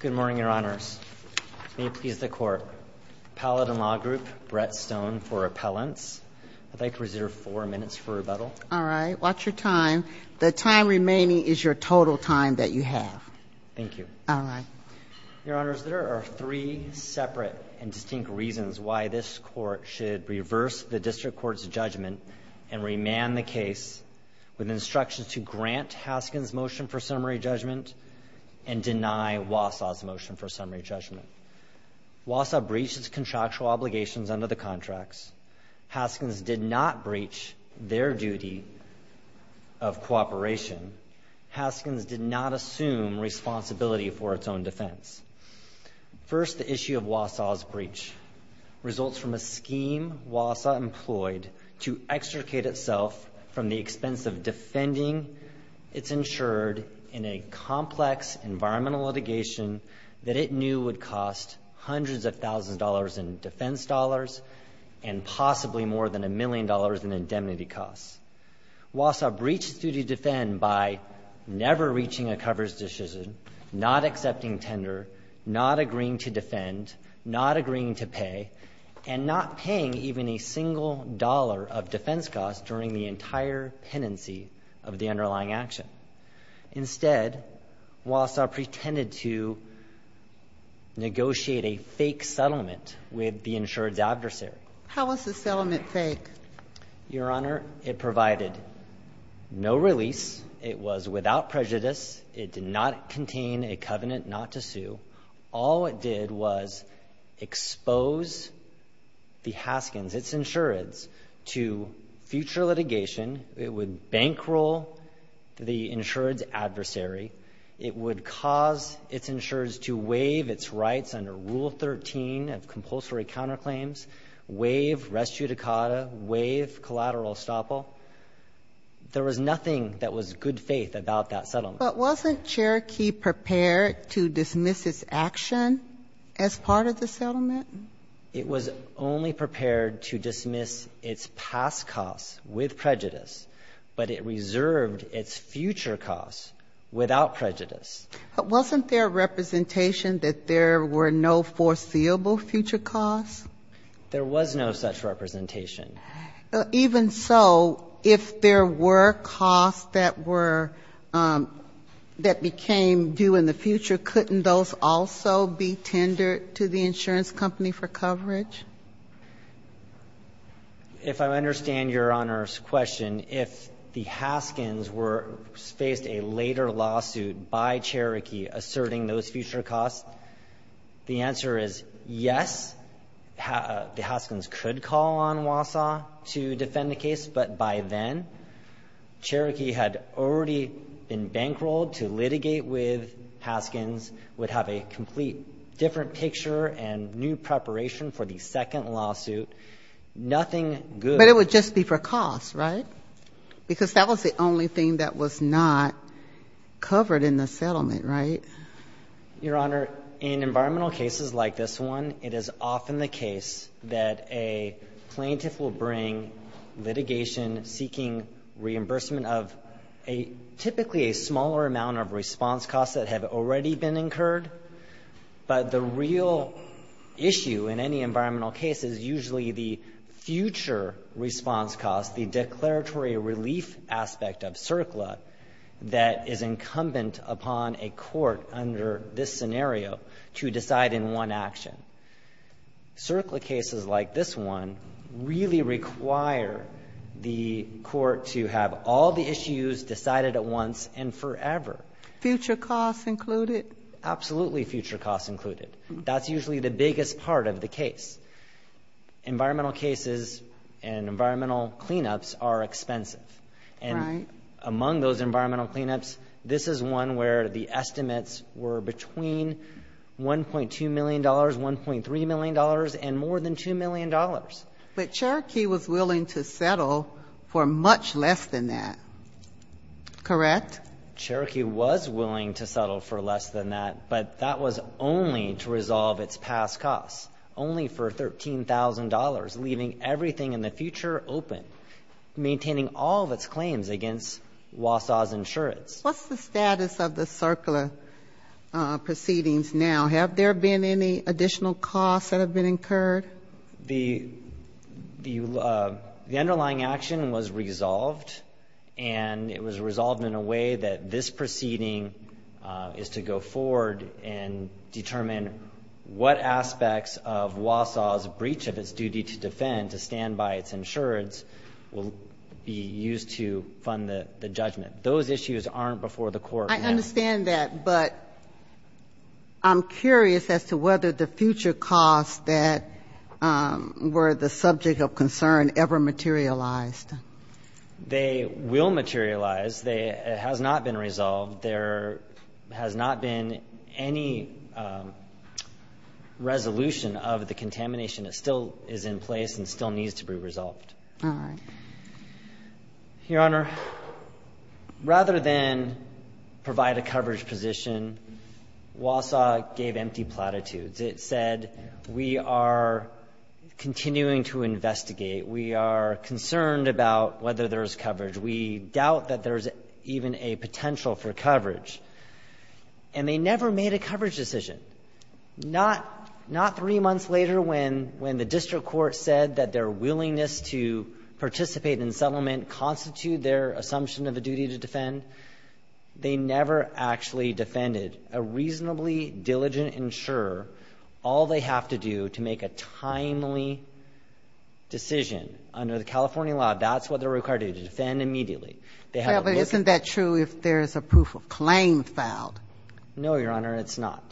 Good morning, Your Honors. May it please the Court, Appellate and Law Group, Brett Stone for appellants. I'd like to reserve four minutes for rebuttal. All right, watch your time. The time remaining is your total time that you have. Thank you. All right. Your Honors, there are three separate and distinct reasons why this Court should reverse the District Court's judgment and remand the case with instructions to grant Haskins' motion for summary judgment and deny Wausau's motion for summary judgment. Wausau breached its contractual obligations under the contracts. Haskins did not breach their duty of cooperation. Haskins did not assume responsibility for its own defense. First, the issue of Wausau's breach results from a scheme Wausau employed to that it knew would cost hundreds of thousands of dollars in defense dollars and possibly more than a million dollars in indemnity costs. Wausau breached its duty to defend by never reaching a coverage decision, not accepting tender, not agreeing to defend, not agreeing to pay, and not paying even a single dollar of defense costs during the entire penancy of the underlying action. Instead, Wausau pretended to negotiate a fake settlement with the insured's adversary. How was the settlement fake? Your Honor, it provided no release. It was without prejudice. It did not contain a covenant not to sue. All it did was expose the Haskins, its insureds, to future litigation. It would bankroll the insured's adversary. It would cause its insureds to waive its rights under Rule 13 of compulsory counterclaims, waive res judicata, waive collateral estoppel. There was nothing that was good faith about that settlement. But wasn't Cherokee prepared to dismiss its action as part of the settlement? It was only prepared to dismiss its past costs with prejudice, but it reserved its future costs without prejudice. But wasn't there representation that there were no foreseeable future costs? There was no such representation. Even so, if there were costs that were, that became due in the future, couldn't those also be tendered to the insurance company for coverage? If I understand Your Honor's question, if the Haskins were faced a later lawsuit by Cherokee asserting those future costs, the answer is yes, the Haskins could call on Wausau to defend the case, but by then, Cherokee had already been bankrolled to litigate with Haskins, would have a complete different picture and new preparation for the second lawsuit, nothing good. But it would just be for costs, right? Because that was the only thing that was not covered in the settlement, right? Your Honor, in environmental cases like this one, it is often the case that a plaintiff will bring litigation seeking reimbursement of a typically a smaller amount of response costs that have already been incurred, but the real issue in any environmental case is usually the future response cost, the declaratory relief aspect of CERCLA that is incumbent upon a court under this scenario to decide in one action. CERCLA cases like this one really require the court to have all the issues decided at once and forever. Future costs included? Absolutely, future costs included. That's usually the biggest part of the case. Environmental cases and environmental cleanups are expensive, and among those environmental cleanups, this is one where the estimates were between $1.2 million, $1.3 million, and more than $2 million. But Cherokee was willing to settle for much less than that, correct? Cherokee was willing to settle for less than that, but that was only to resolve its past costs, only for $13,000, leaving everything in the future open, maintaining all of its claims against Wausau's insurance. What's the status of the CERCLA proceedings now? Have there been any additional costs that have been incurred? The underlying action was resolved, and it was resolved in a way that this proceeding is to go forward and determine what aspects of Wausau's breach of its duty to defend and to stand by its insurance will be used to fund the judgment. Those issues aren't before the court. I understand that, but I'm curious as to whether the future costs that were the subject of concern ever materialized. They will materialize. It has not been resolved. There has not been any resolution of the contamination that still is in place and still needs to be resolved. Your Honor, rather than provide a coverage position, Wausau gave empty platitudes. It said, we are continuing to investigate. We are concerned about whether there is coverage. We doubt that there is even a potential for coverage. And they never made a coverage decision. Not three months later when the district court said that their willingness to participate in settlement constituted their assumption of a duty to defend, they never actually defended a reasonably diligent insurer all they have to do to make a timely decision. Under the California law, that's what they're required to do, to defend immediately. They have to look at the case. But isn't that true if there is a proof of claim filed? No, Your Honor, it's not.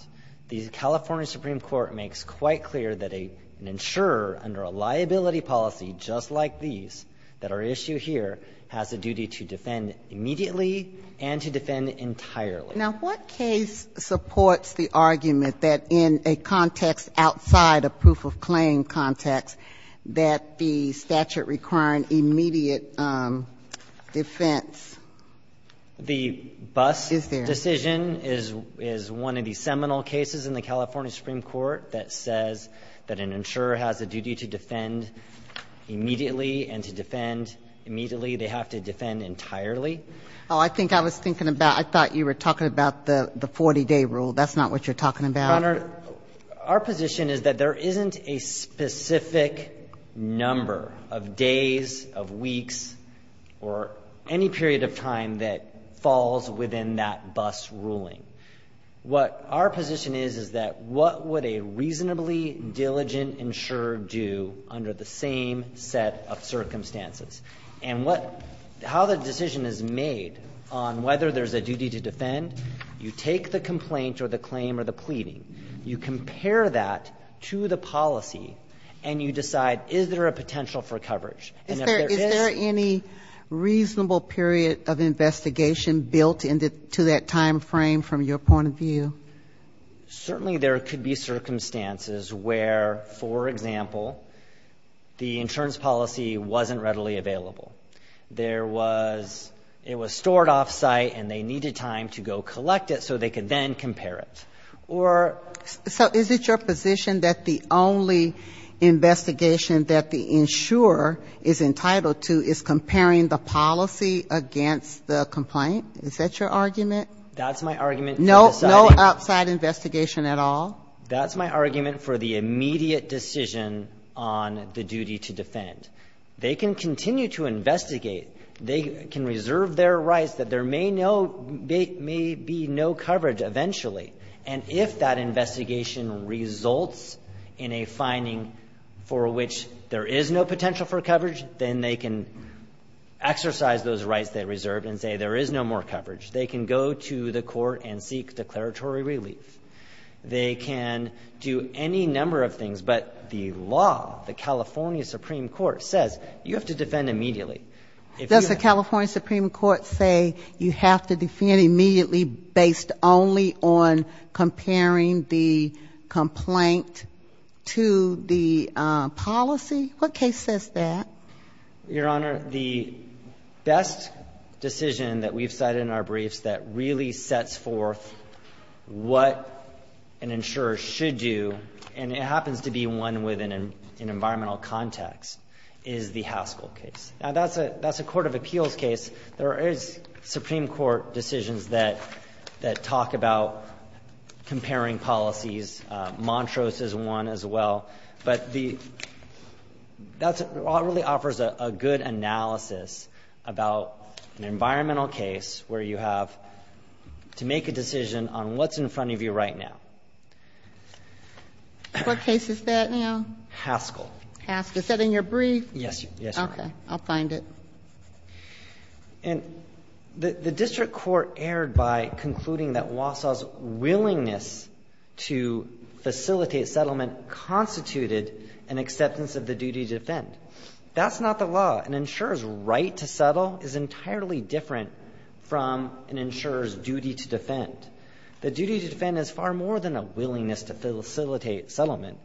The California Supreme Court makes quite clear that an insurer under a liability policy just like these, that our issue here, has a duty to defend immediately and to defend entirely. Now, what case supports the argument that in a context outside a proof of claim context, that the statute requiring immediate defense is there? The Buss decision is one of the seminal cases in the California Supreme Court that says that an insurer has a duty to defend immediately and to defend immediately. They have to defend entirely. Oh, I think I was thinking about, I thought you were talking about the 40-day rule. That's not what you're talking about. Your Honor, our position is that there isn't a specific number of days, of weeks, or any period of time that falls within that Buss ruling. What our position is, is that what would a reasonably diligent insurer do under the same set of circumstances? And what – how the decision is made on whether there's a duty to defend, you take the complaint or the claim or the pleading. You compare that to the policy and you decide, is there a potential for coverage? Is there any reasonable period of investigation built into that time frame from your point of view? Certainly there could be circumstances where, for example, the insurance policy wasn't readily available. There was – it was stored off-site and they needed time to go collect it so they could then compare it. Or – So is it your position that the only investigation that the insurer is entitled to is comparing the policy against the complaint? Is that your argument? That's my argument for the site. No outside investigation at all? That's my argument for the immediate decision on the duty to defend. They can continue to investigate. They can reserve their rights that there may no – may be no coverage eventually. And if that investigation results in a finding for which there is no potential for coverage, then they can exercise those rights they reserved and say there is no more coverage. They can go to the court and seek declaratory relief. They can do any number of things, but the law, the California Supreme Court, says you have to defend immediately. Does the California Supreme Court say you have to defend immediately based only on comparing the complaint to the policy? What case says that? Your Honor, the best decision that we've cited in our briefs that really sets forth what an insurer should do, and it happens to be one within an environmental context, is the Haskell case. Now, that's a court of appeals case. There is Supreme Court decisions that talk about comparing policies. Montrose is one as well. But the – that really offers a good analysis about an environmental case where you have to make a decision on what's in front of you right now. What case is that now? Haskell. Haskell. Is that in your brief? Yes, Your Honor. Okay. I'll find it. And the district court erred by concluding that Wausau's willingness to facilitate settlement constituted an acceptance of the duty to defend. That's not the law. An insurer's right to settle is entirely different from an insurer's duty to defend. The duty to defend is far more than a willingness to facilitate settlement.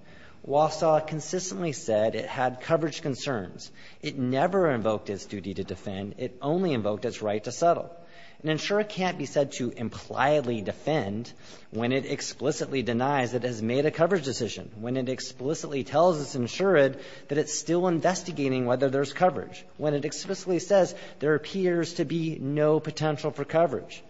Wausau consistently said it had coverage concerns. It never invoked its duty to defend. It only invoked its right to settle. An insurer can't be said to impliedly defend when it explicitly denies it has made a coverage decision, when it explicitly tells its insured that it's still investigating whether there's coverage, when it explicitly says there appears to be no potential for coverage.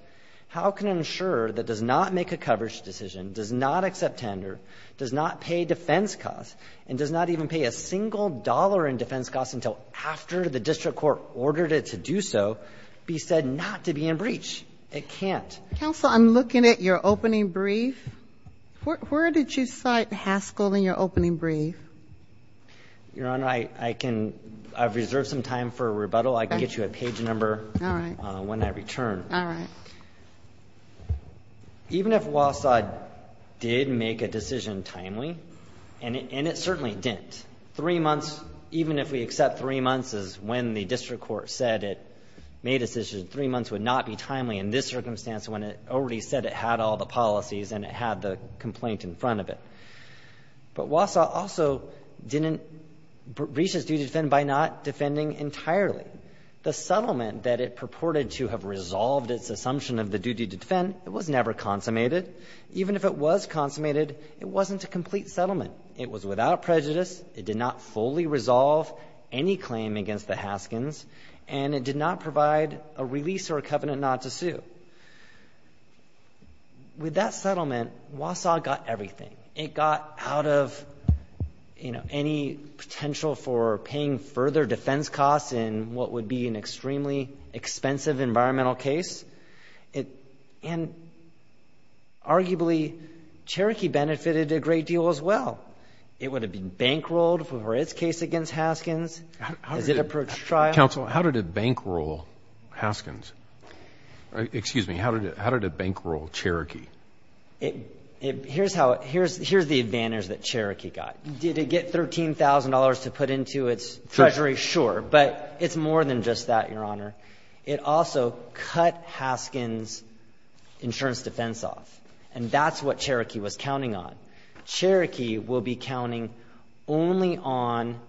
How can an insurer that does not make a coverage decision, does not accept tender, does not pay defense costs, and does not even pay a single dollar in defense costs until after the district court ordered it to do so, be said not to be in breach? It can't. Counsel, I'm looking at your opening brief. Where did you cite Haskell in your opening brief? Your Honor, I've reserved some time for rebuttal. I can get you a page number when I return. All right. Even if Wausau did make a decision timely, and it certainly didn't, three months, even if we accept three months is when the district court said it made a decision, three months would not be timely in this circumstance when it already said it had all the policies and it had the complaint in front of it. But Wausau also didn't breach its duty to defend by not defending entirely. The settlement that it purported to have resolved its assumption of the duty to defend, it was never consummated. Even if it was consummated, it wasn't a complete settlement. It was without prejudice. It did not fully resolve any claim against the Haskins. And it did not provide a release or a covenant not to sue. With that settlement, Wausau got everything. It got out of any potential for paying further defense costs in what would be an extremely expensive environmental case, and arguably, Cherokee benefited a great deal as well. It would have been bankrolled for its case against Haskins as it approached trial. Counsel, how did it bankroll Haskins? Excuse me, how did it bankroll Cherokee? Here's the advantage that Cherokee got. Did it get $13,000 to put into its treasury? Sure, but it's more than just that, Your Honor. It also cut Haskins' insurance defense off, and that's what Cherokee was counting on. Cherokee will be counting only on,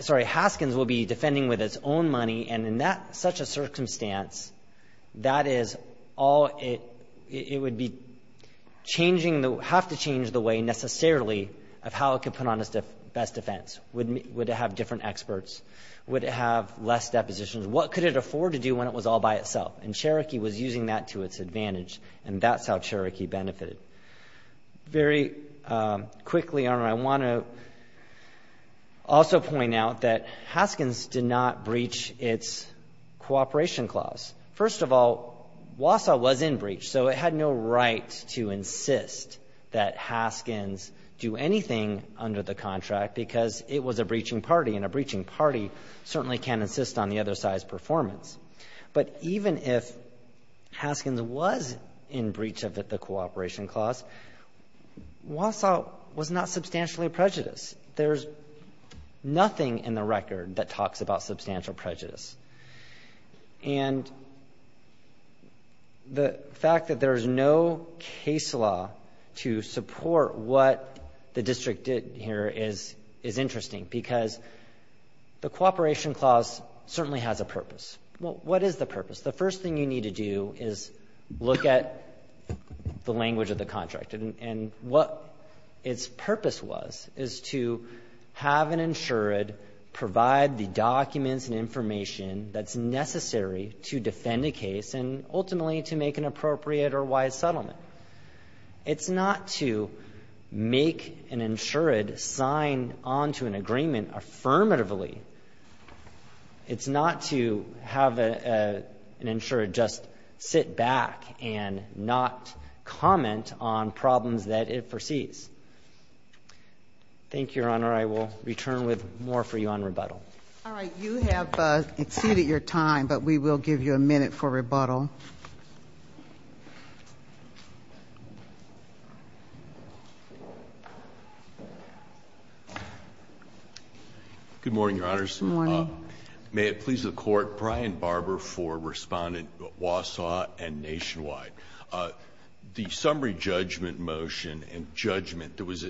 sorry, Haskins will be defending with its own money, and in that such a circumstance, that is all it would be changing, have to change the way necessarily of how it could put on its best defense. Would it have different experts? Would it have less depositions? What could it afford to do when it was all by itself? And Cherokee was using that to its advantage, and that's how Cherokee benefited. Very quickly, Your Honor, I want to also point out that Haskins did not breach its cooperation clause. First of all, Wausau was in breach, so it had no right to insist that Haskins do anything under the contract, because it was a breaching party, and a breaching party certainly can't insist on the other side's performance. But even if Haskins was in breach of the cooperation clause, Wausau was not substantially prejudiced. There's nothing in the record that talks about substantial prejudice. And the fact that there's no case law to support what the district did here is interesting, because the cooperation clause certainly has a purpose. What is the purpose? The first thing you need to do is look at the language of the contract. And what its purpose was is to have an insured provide the documents and information that's necessary to defend a case and ultimately to make an appropriate or wise settlement. It's not to make an insured sign onto an agreement affirmatively. It's not to have an insured just sit back and not comment on problems that it foresees. Thank you, Your Honor. I will return with more for you on rebuttal. All right. You have exceeded your time, but we will give you a minute for rebuttal. Good morning, Your Honors. Good morning. May it please the Court, Brian Barber for Respondent Wausau and Nationwide. The summary judgment motion and judgment that was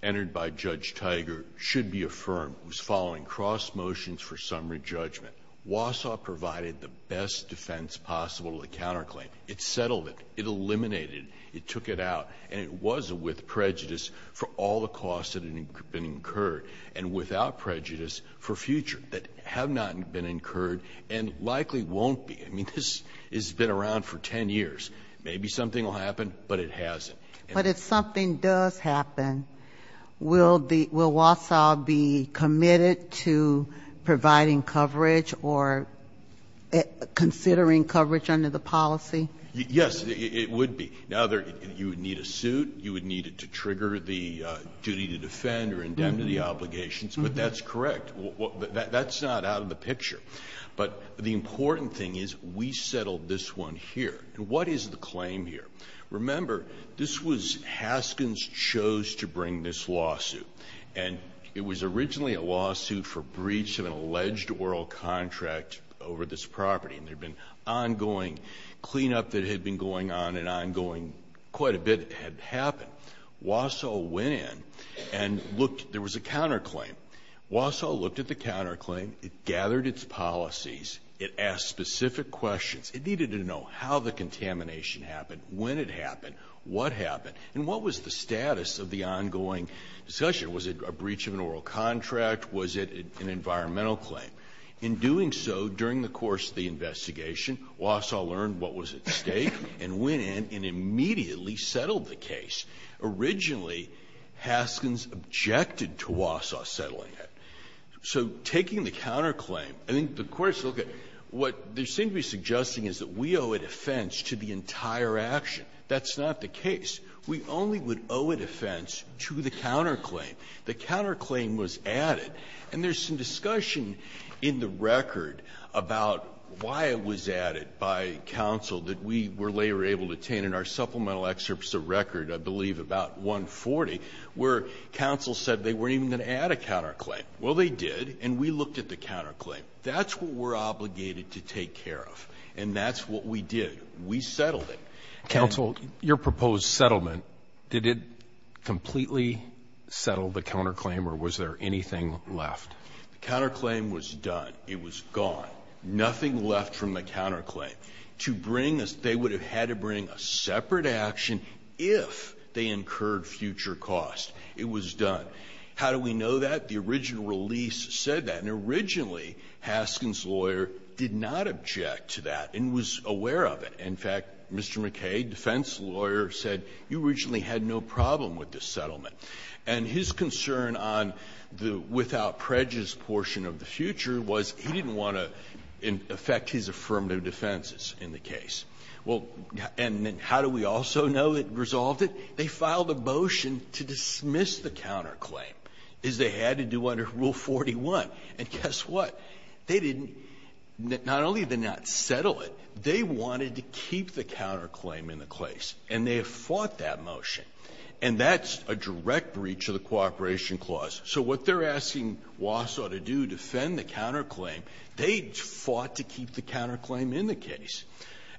entered by Judge Tiger should be affirmed was following cross motions for summary judgment. Wausau provided the best defense possible to the counterclaim. It settled it. It eliminated it. It took it out. And it was with prejudice for all the costs that had been incurred. And without prejudice for future that have not been incurred and likely won't be. I mean, this has been around for ten years. Maybe something will happen, but it hasn't. But if something does happen, will Wausau be committed to providing coverage or considering coverage under the policy? Yes, it would be. Now, you would need a suit. You would need it to trigger the duty to defend or indemnify the obligations. But that's correct. That's not out of the picture. But the important thing is we settled this one here. What is the claim here? Remember, this was Haskins chose to bring this lawsuit. And it was originally a lawsuit for breach of an alleged oral contract over this property. And there had been ongoing cleanup that had been going on and ongoing. Quite a bit had happened. Wausau went in and looked, there was a counterclaim. Wausau looked at the counterclaim. It gathered its policies. It asked specific questions. It needed to know how the contamination happened, when it happened, what happened. And what was the status of the ongoing discussion? Was it a breach of an oral contract? Was it an environmental claim? In doing so, during the course of the investigation, Wausau learned what was at stake and went in and immediately settled the case. Originally, Haskins objected to Wausau settling it. So taking the counterclaim, I think the Court is looking at what they seem to be suggesting is that we owe a defense to the entire action. That's not the case. We only would owe a defense to the counterclaim. The counterclaim was added. And there's some discussion in the record about why it was added by counsel that we were later able to obtain in our supplemental excerpts of record, I believe, about 140, where counsel said they weren't even going to add a counterclaim. Well, they did, and we looked at the counterclaim. That's what we're obligated to take care of. And that's what we did. We settled it. Counsel, your proposed settlement, did it completely settle the counterclaim, or was there anything left? The counterclaim was done. It was gone. Nothing left from the counterclaim. To bring a — they would have had to bring a separate action if they incurred future costs. It was done. How do we know that? The original release said that. And originally, Haskin's lawyer did not object to that and was aware of it. In fact, Mr. McKay, defense lawyer, said you originally had no problem with this settlement. And his concern on the without prejudice portion of the future was he didn't want to affect his affirmative defenses in the case. Well, and then how do we also know it resolved it? They filed a motion to dismiss the counterclaim, as they had to do under Rule 41. And guess what? They didn't — not only did they not settle it, they wanted to keep the counterclaim in the case. And they have fought that motion. And that's a direct breach of the cooperation clause. So what they're asking Wausau to do, defend the counterclaim, they fought to keep the counterclaim in the case.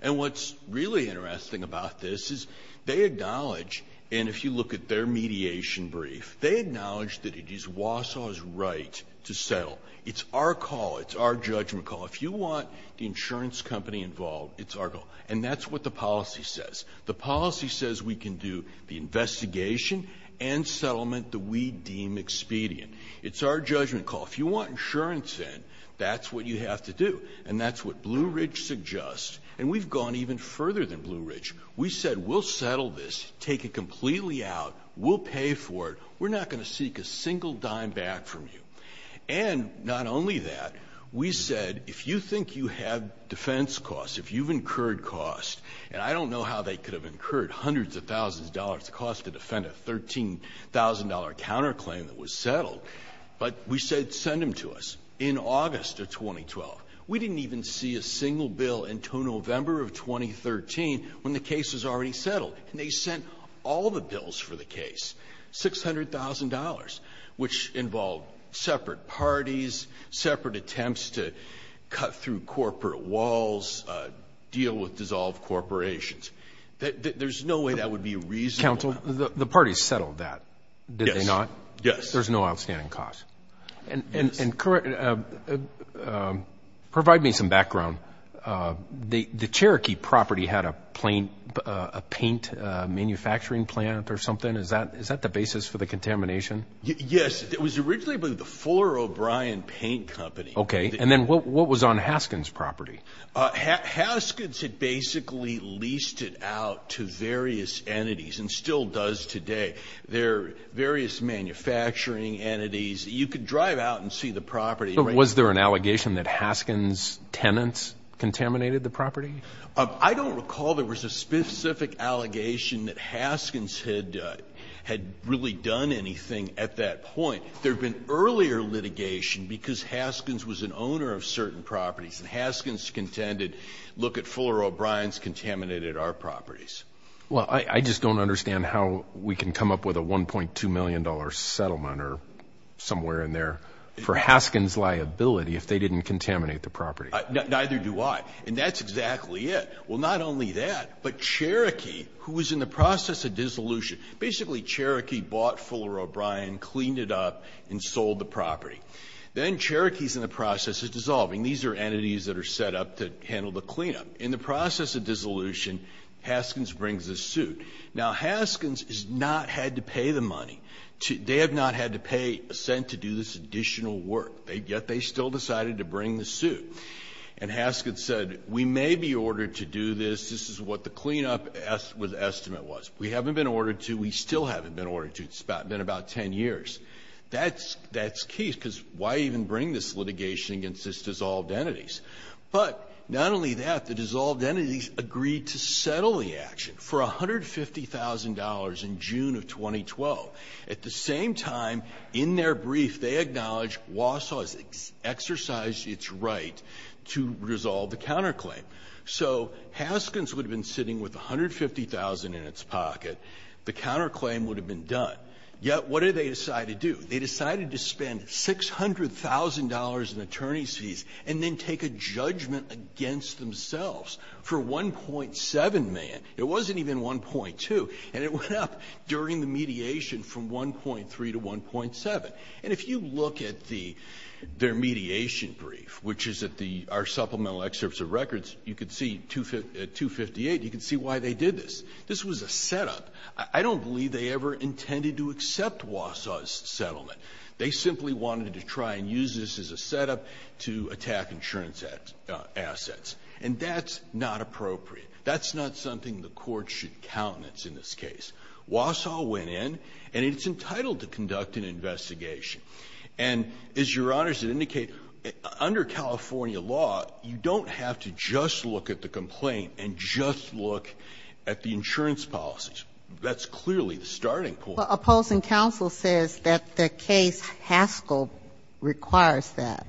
And what's really interesting about this is they acknowledge — and if you look at their mediation brief, they acknowledge that it is Wausau's right to settle. It's our call. It's our judgment call. If you want the insurance company involved, it's our goal. And that's what the policy says. The policy says we can do the investigation and settlement that we deem expedient. It's our judgment call. If you want insurance in, that's what you have to do. And that's what Blue Ridge suggests. And we've gone even further than Blue Ridge. We said, we'll settle this, take it completely out, we'll pay for it. We're not going to seek a single dime back from you. And not only that, we said, if you think you have defense costs, if you've incurred costs — and I don't know how they could have incurred hundreds of thousands of dollars' cost to defend a $13,000 counterclaim that was settled — but we said, send them to us in August of 2012. We didn't even see a single bill until November of 2013 when the case was already settled. And they sent all the bills for the case, $600,000, which involved separate parties, separate attempts to cut through corporate walls, deal with dissolved corporations. There's no way that would be reasonable. Counsel, the parties settled that, did they not? Yes. There's no outstanding costs. And provide me some background. The Cherokee property had a paint manufacturing plant or something. Is that the basis for the contamination? Yes. It was originally the Fuller O'Brien Paint Company. OK. And then what was on Haskins' property? Haskins had basically leased it out to various entities and still does today. There are various manufacturing entities. You could drive out and see the property. But was there an allegation that Haskins' tenants contaminated the property? I don't recall there was a specific allegation that Haskins had really done anything at that point. There had been earlier litigation because Haskins was an owner of certain properties and Haskins contended, look at Fuller O'Brien's contaminated our properties. Well, I just don't understand how we can come up with a $1.2 million settlement or somewhere in there for Haskins' liability if they didn't contaminate the property. Neither do I. And that's exactly it. Well, not only that, but Cherokee, who was in the process of dissolution, basically Cherokee bought Fuller O'Brien, cleaned it up, and sold the property. Then Cherokee's in the process of dissolving. These are entities that are set up to handle the cleanup. In the process of dissolution, Haskins brings a suit. Now, Haskins has not had to pay the money. They have not had to pay a cent to do this additional work, yet they still decided to bring the suit. And Haskins said, we may be ordered to do this. This is what the cleanup estimate was. We haven't been ordered to. We still haven't been ordered to. It's been about 10 years. That's key, because why even bring this litigation against these dissolved entities? But not only that, the dissolved entities agreed to settle the action for $150,000 in June of 2012. At the same time, in their brief, they acknowledged Wausau has exercised its right to resolve the counterclaim. So Haskins would have been sitting with $150,000 in its pocket. The counterclaim would have been done. Yet, what did they decide to do? They decided to spend $600,000 in attorney's fees and then take a judgment against themselves for 1.7 million. It wasn't even 1.2, and it went up during the mediation from 1.3 to 1.7. And if you look at the – their mediation brief, which is at the – our supplemental excerpts of records, you could see at 258, you could see why they did this. This was a setup. I don't believe they ever intended to accept Wausau's settlement. They simply wanted to try and use this as a setup to attack insurance assets. And that's not appropriate. That's not something the Court should countenance in this case. Wausau went in, and it's entitled to conduct an investigation. And as Your Honors had indicated, under California law, you don't have to just look at the complaint and just look at the insurance policies. That's clearly the starting point. Opposing counsel says that the case Haskell requires that.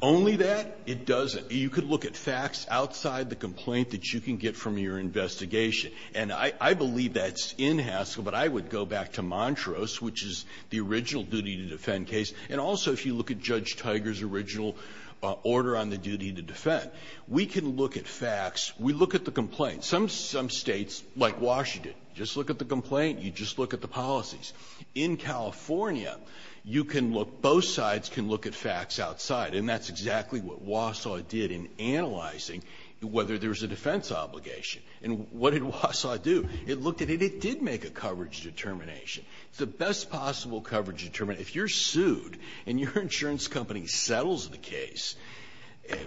Only that? It doesn't. You could look at facts outside the complaint that you can get from your investigation. And I believe that's in Haskell, but I would go back to Montrose, which is the original duty to defend case. And also, if you look at Judge Tiger's original order on the duty to defend, we can look at facts. We look at the complaint. Some states, like Washington, just look at the complaint. You just look at the policies. In California, you can look, both sides can look at facts outside. And that's exactly what Wausau did in analyzing whether there was a defense obligation. And what did Wausau do? It looked at it. It did make a coverage determination. The best possible coverage determination, if you're sued and your insurance company settles the case,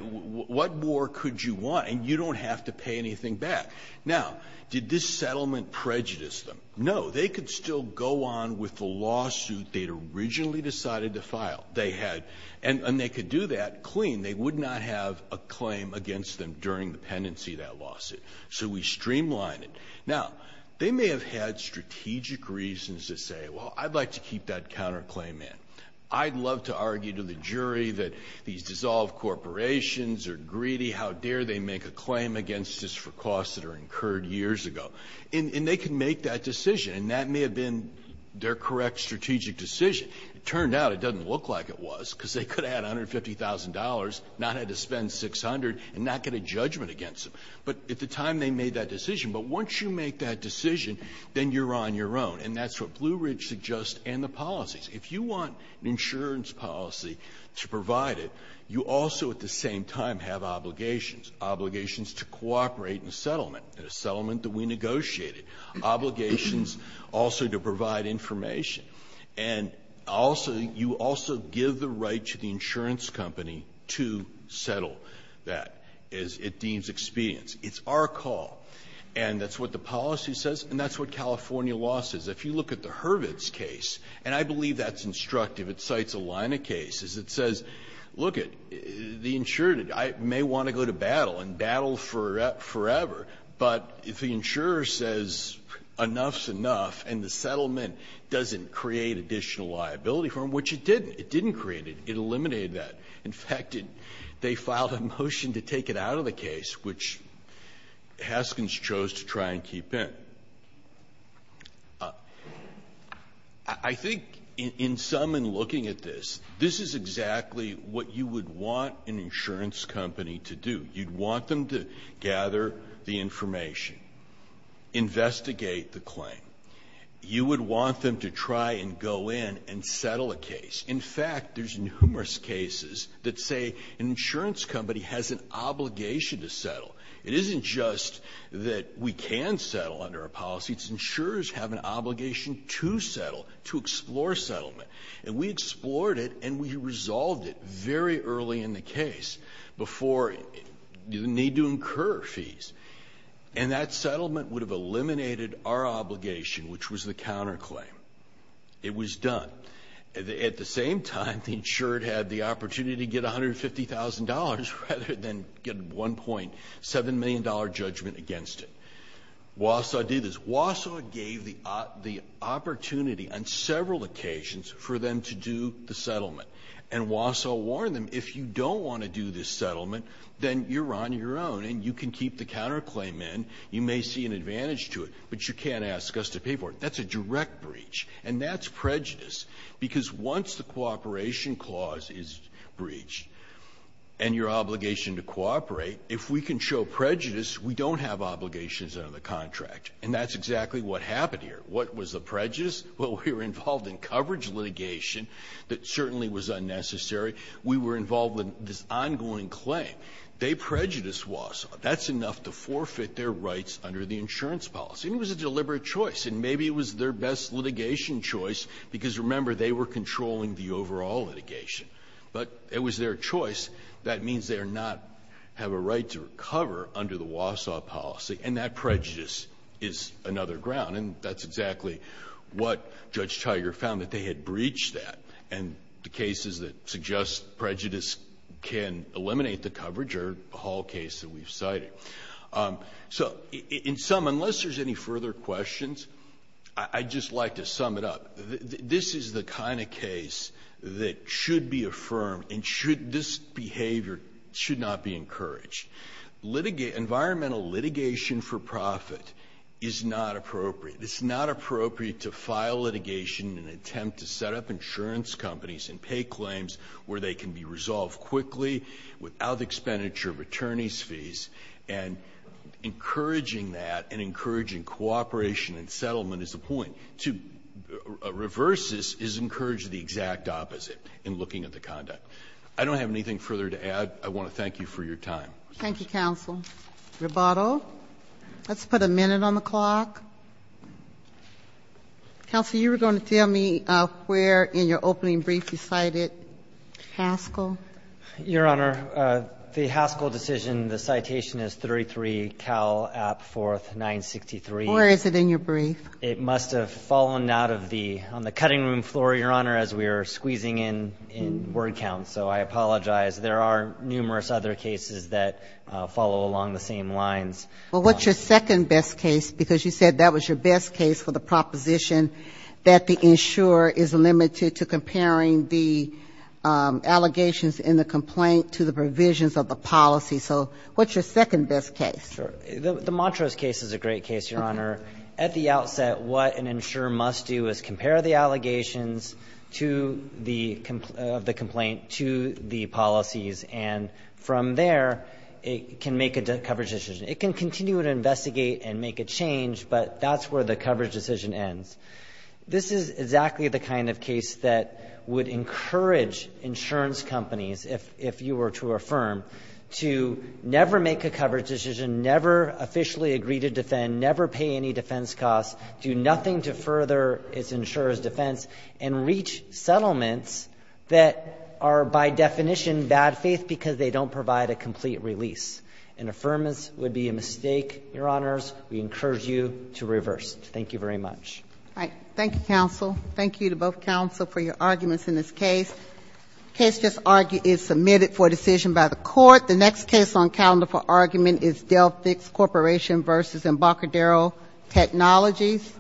what more could you want? And you don't have to pay anything back. Now, did this settlement prejudice them? No. They could still go on with the lawsuit they'd originally decided to file. They had, and they could do that clean. They would not have a claim against them during the pendency of that lawsuit. So we streamlined it. Now, they may have had strategic reasons to say, well, I'd like to keep that counterclaim in. I'd love to argue to the jury that these dissolved corporations are greedy. How dare they make a claim against us for costs that are incurred years ago? And they can make that decision. And that may have been their correct strategic decision. It turned out it doesn't look like it was, because they could have had $150,000, not had to spend 600, and not get a judgment against them. But at the time they made that decision. But once you make that decision, then you're on your own. And that's what Blue Ridge suggests and the policies. If you want an insurance policy to provide it, you also at the same time have obligations. Obligations to cooperate in a settlement, in a settlement that we negotiated. Obligations also to provide information. And also, you also give the right to the insurance company to settle that, as it deems expedient. It's our call. And that's what the policy says, and that's what California law says. If you look at the Hurwitz case, and I believe that's instructive. It cites a line of cases. It says, look, the insured may want to go to battle and battle forever. But if the insurer says enough's enough and the settlement doesn't create additional liability for them, which it didn't. It didn't create it. It eliminated that. In fact, they filed a motion to take it out of the case, which Haskins chose to try and keep in. I think in some, in looking at this, this is exactly what you would want an insurance company to do. You'd want them to gather the information, investigate the claim. You would want them to try and go in and settle a case. In fact, there's numerous cases that say an insurance company has an obligation to settle. It isn't just that we can settle under a policy. It's insurers have an obligation to settle, to explore settlement. And we explored it and we resolved it very early in the case before you need to incur fees. And that settlement would have eliminated our obligation, which was the counter claim. It was done. At the same time, the insured had the opportunity to get $150,000 rather than get $1.7 million judgment against it. Wausau did this. Wausau gave the opportunity on several occasions for them to do the settlement. And Wausau warned them, if you don't want to do this settlement, then you're on your own and you can keep the counter claim in. You may see an advantage to it, but you can't ask us to pay for it. That's a direct breach. And that's prejudice. Because once the cooperation clause is breached and your obligation to cooperate, if we can show prejudice, we don't have obligations under the contract. And that's exactly what happened here. What was the prejudice? Well, we were involved in coverage litigation that certainly was unnecessary. We were involved in this ongoing claim. They prejudiced Wausau. That's enough to forfeit their rights under the insurance policy. And it was a deliberate choice. And maybe it was their best litigation choice because, remember, they were controlling the overall litigation. But it was their choice. That means they do not have a right to recover under the Wausau policy. And that prejudice is another ground. And that's exactly what Judge Tiger found, that they had breached that. And the cases that suggest prejudice can eliminate the coverage are all cases that we've cited. So in sum, unless there's any further questions, I'd just like to sum it up. This is the kind of case that should be affirmed and this behavior should not be encouraged. Environmental litigation for profit is not appropriate. It's not appropriate to file litigation in an attempt to set up insurance companies and pay claims where they can be resolved quickly without expenditure of And encouraging that and encouraging cooperation and settlement is the point. To reverse this is encourage the exact opposite in looking at the conduct. I don't have anything further to add. I want to thank you for your time. Thank you, counsel. Roboto, let's put a minute on the clock. Counsel, you were going to tell me where in your opening brief you cited Haskell. Your Honor, the Haskell decision, the citation is 33 Cal App 4th 963. Where is it in your brief? It must have fallen out of the, on the cutting room floor, Your Honor, as we were squeezing in word count. So I apologize. There are numerous other cases that follow along the same lines. Well, what's your second best case? Because you said that was your best case for the proposition that the insurer is limited to comparing the allegations in the complaint to the provisions of the policy. So what's your second best case? Sure. The Montrose case is a great case, Your Honor. At the outset, what an insurer must do is compare the allegations to the complaint to the policies. And from there, it can make a coverage decision. It can continue to investigate and make a change, but that's where the coverage decision ends. This is exactly the kind of case that would encourage insurance companies, if you were to affirm, to never make a coverage decision, never officially agree to defend, never pay any defense costs, do nothing to further its insurer's defense, and reach settlements that are by definition bad faith because they don't provide a complete release. An affirmance would be a mistake, Your Honors. We encourage you to reverse. Thank you very much. Thank you, counsel. Thank you to both counsel for your arguments in this case. Case just argued is submitted for decision by the court. The next case on calendar for argument is Delphix Corporation versus Embarcadero Technologies.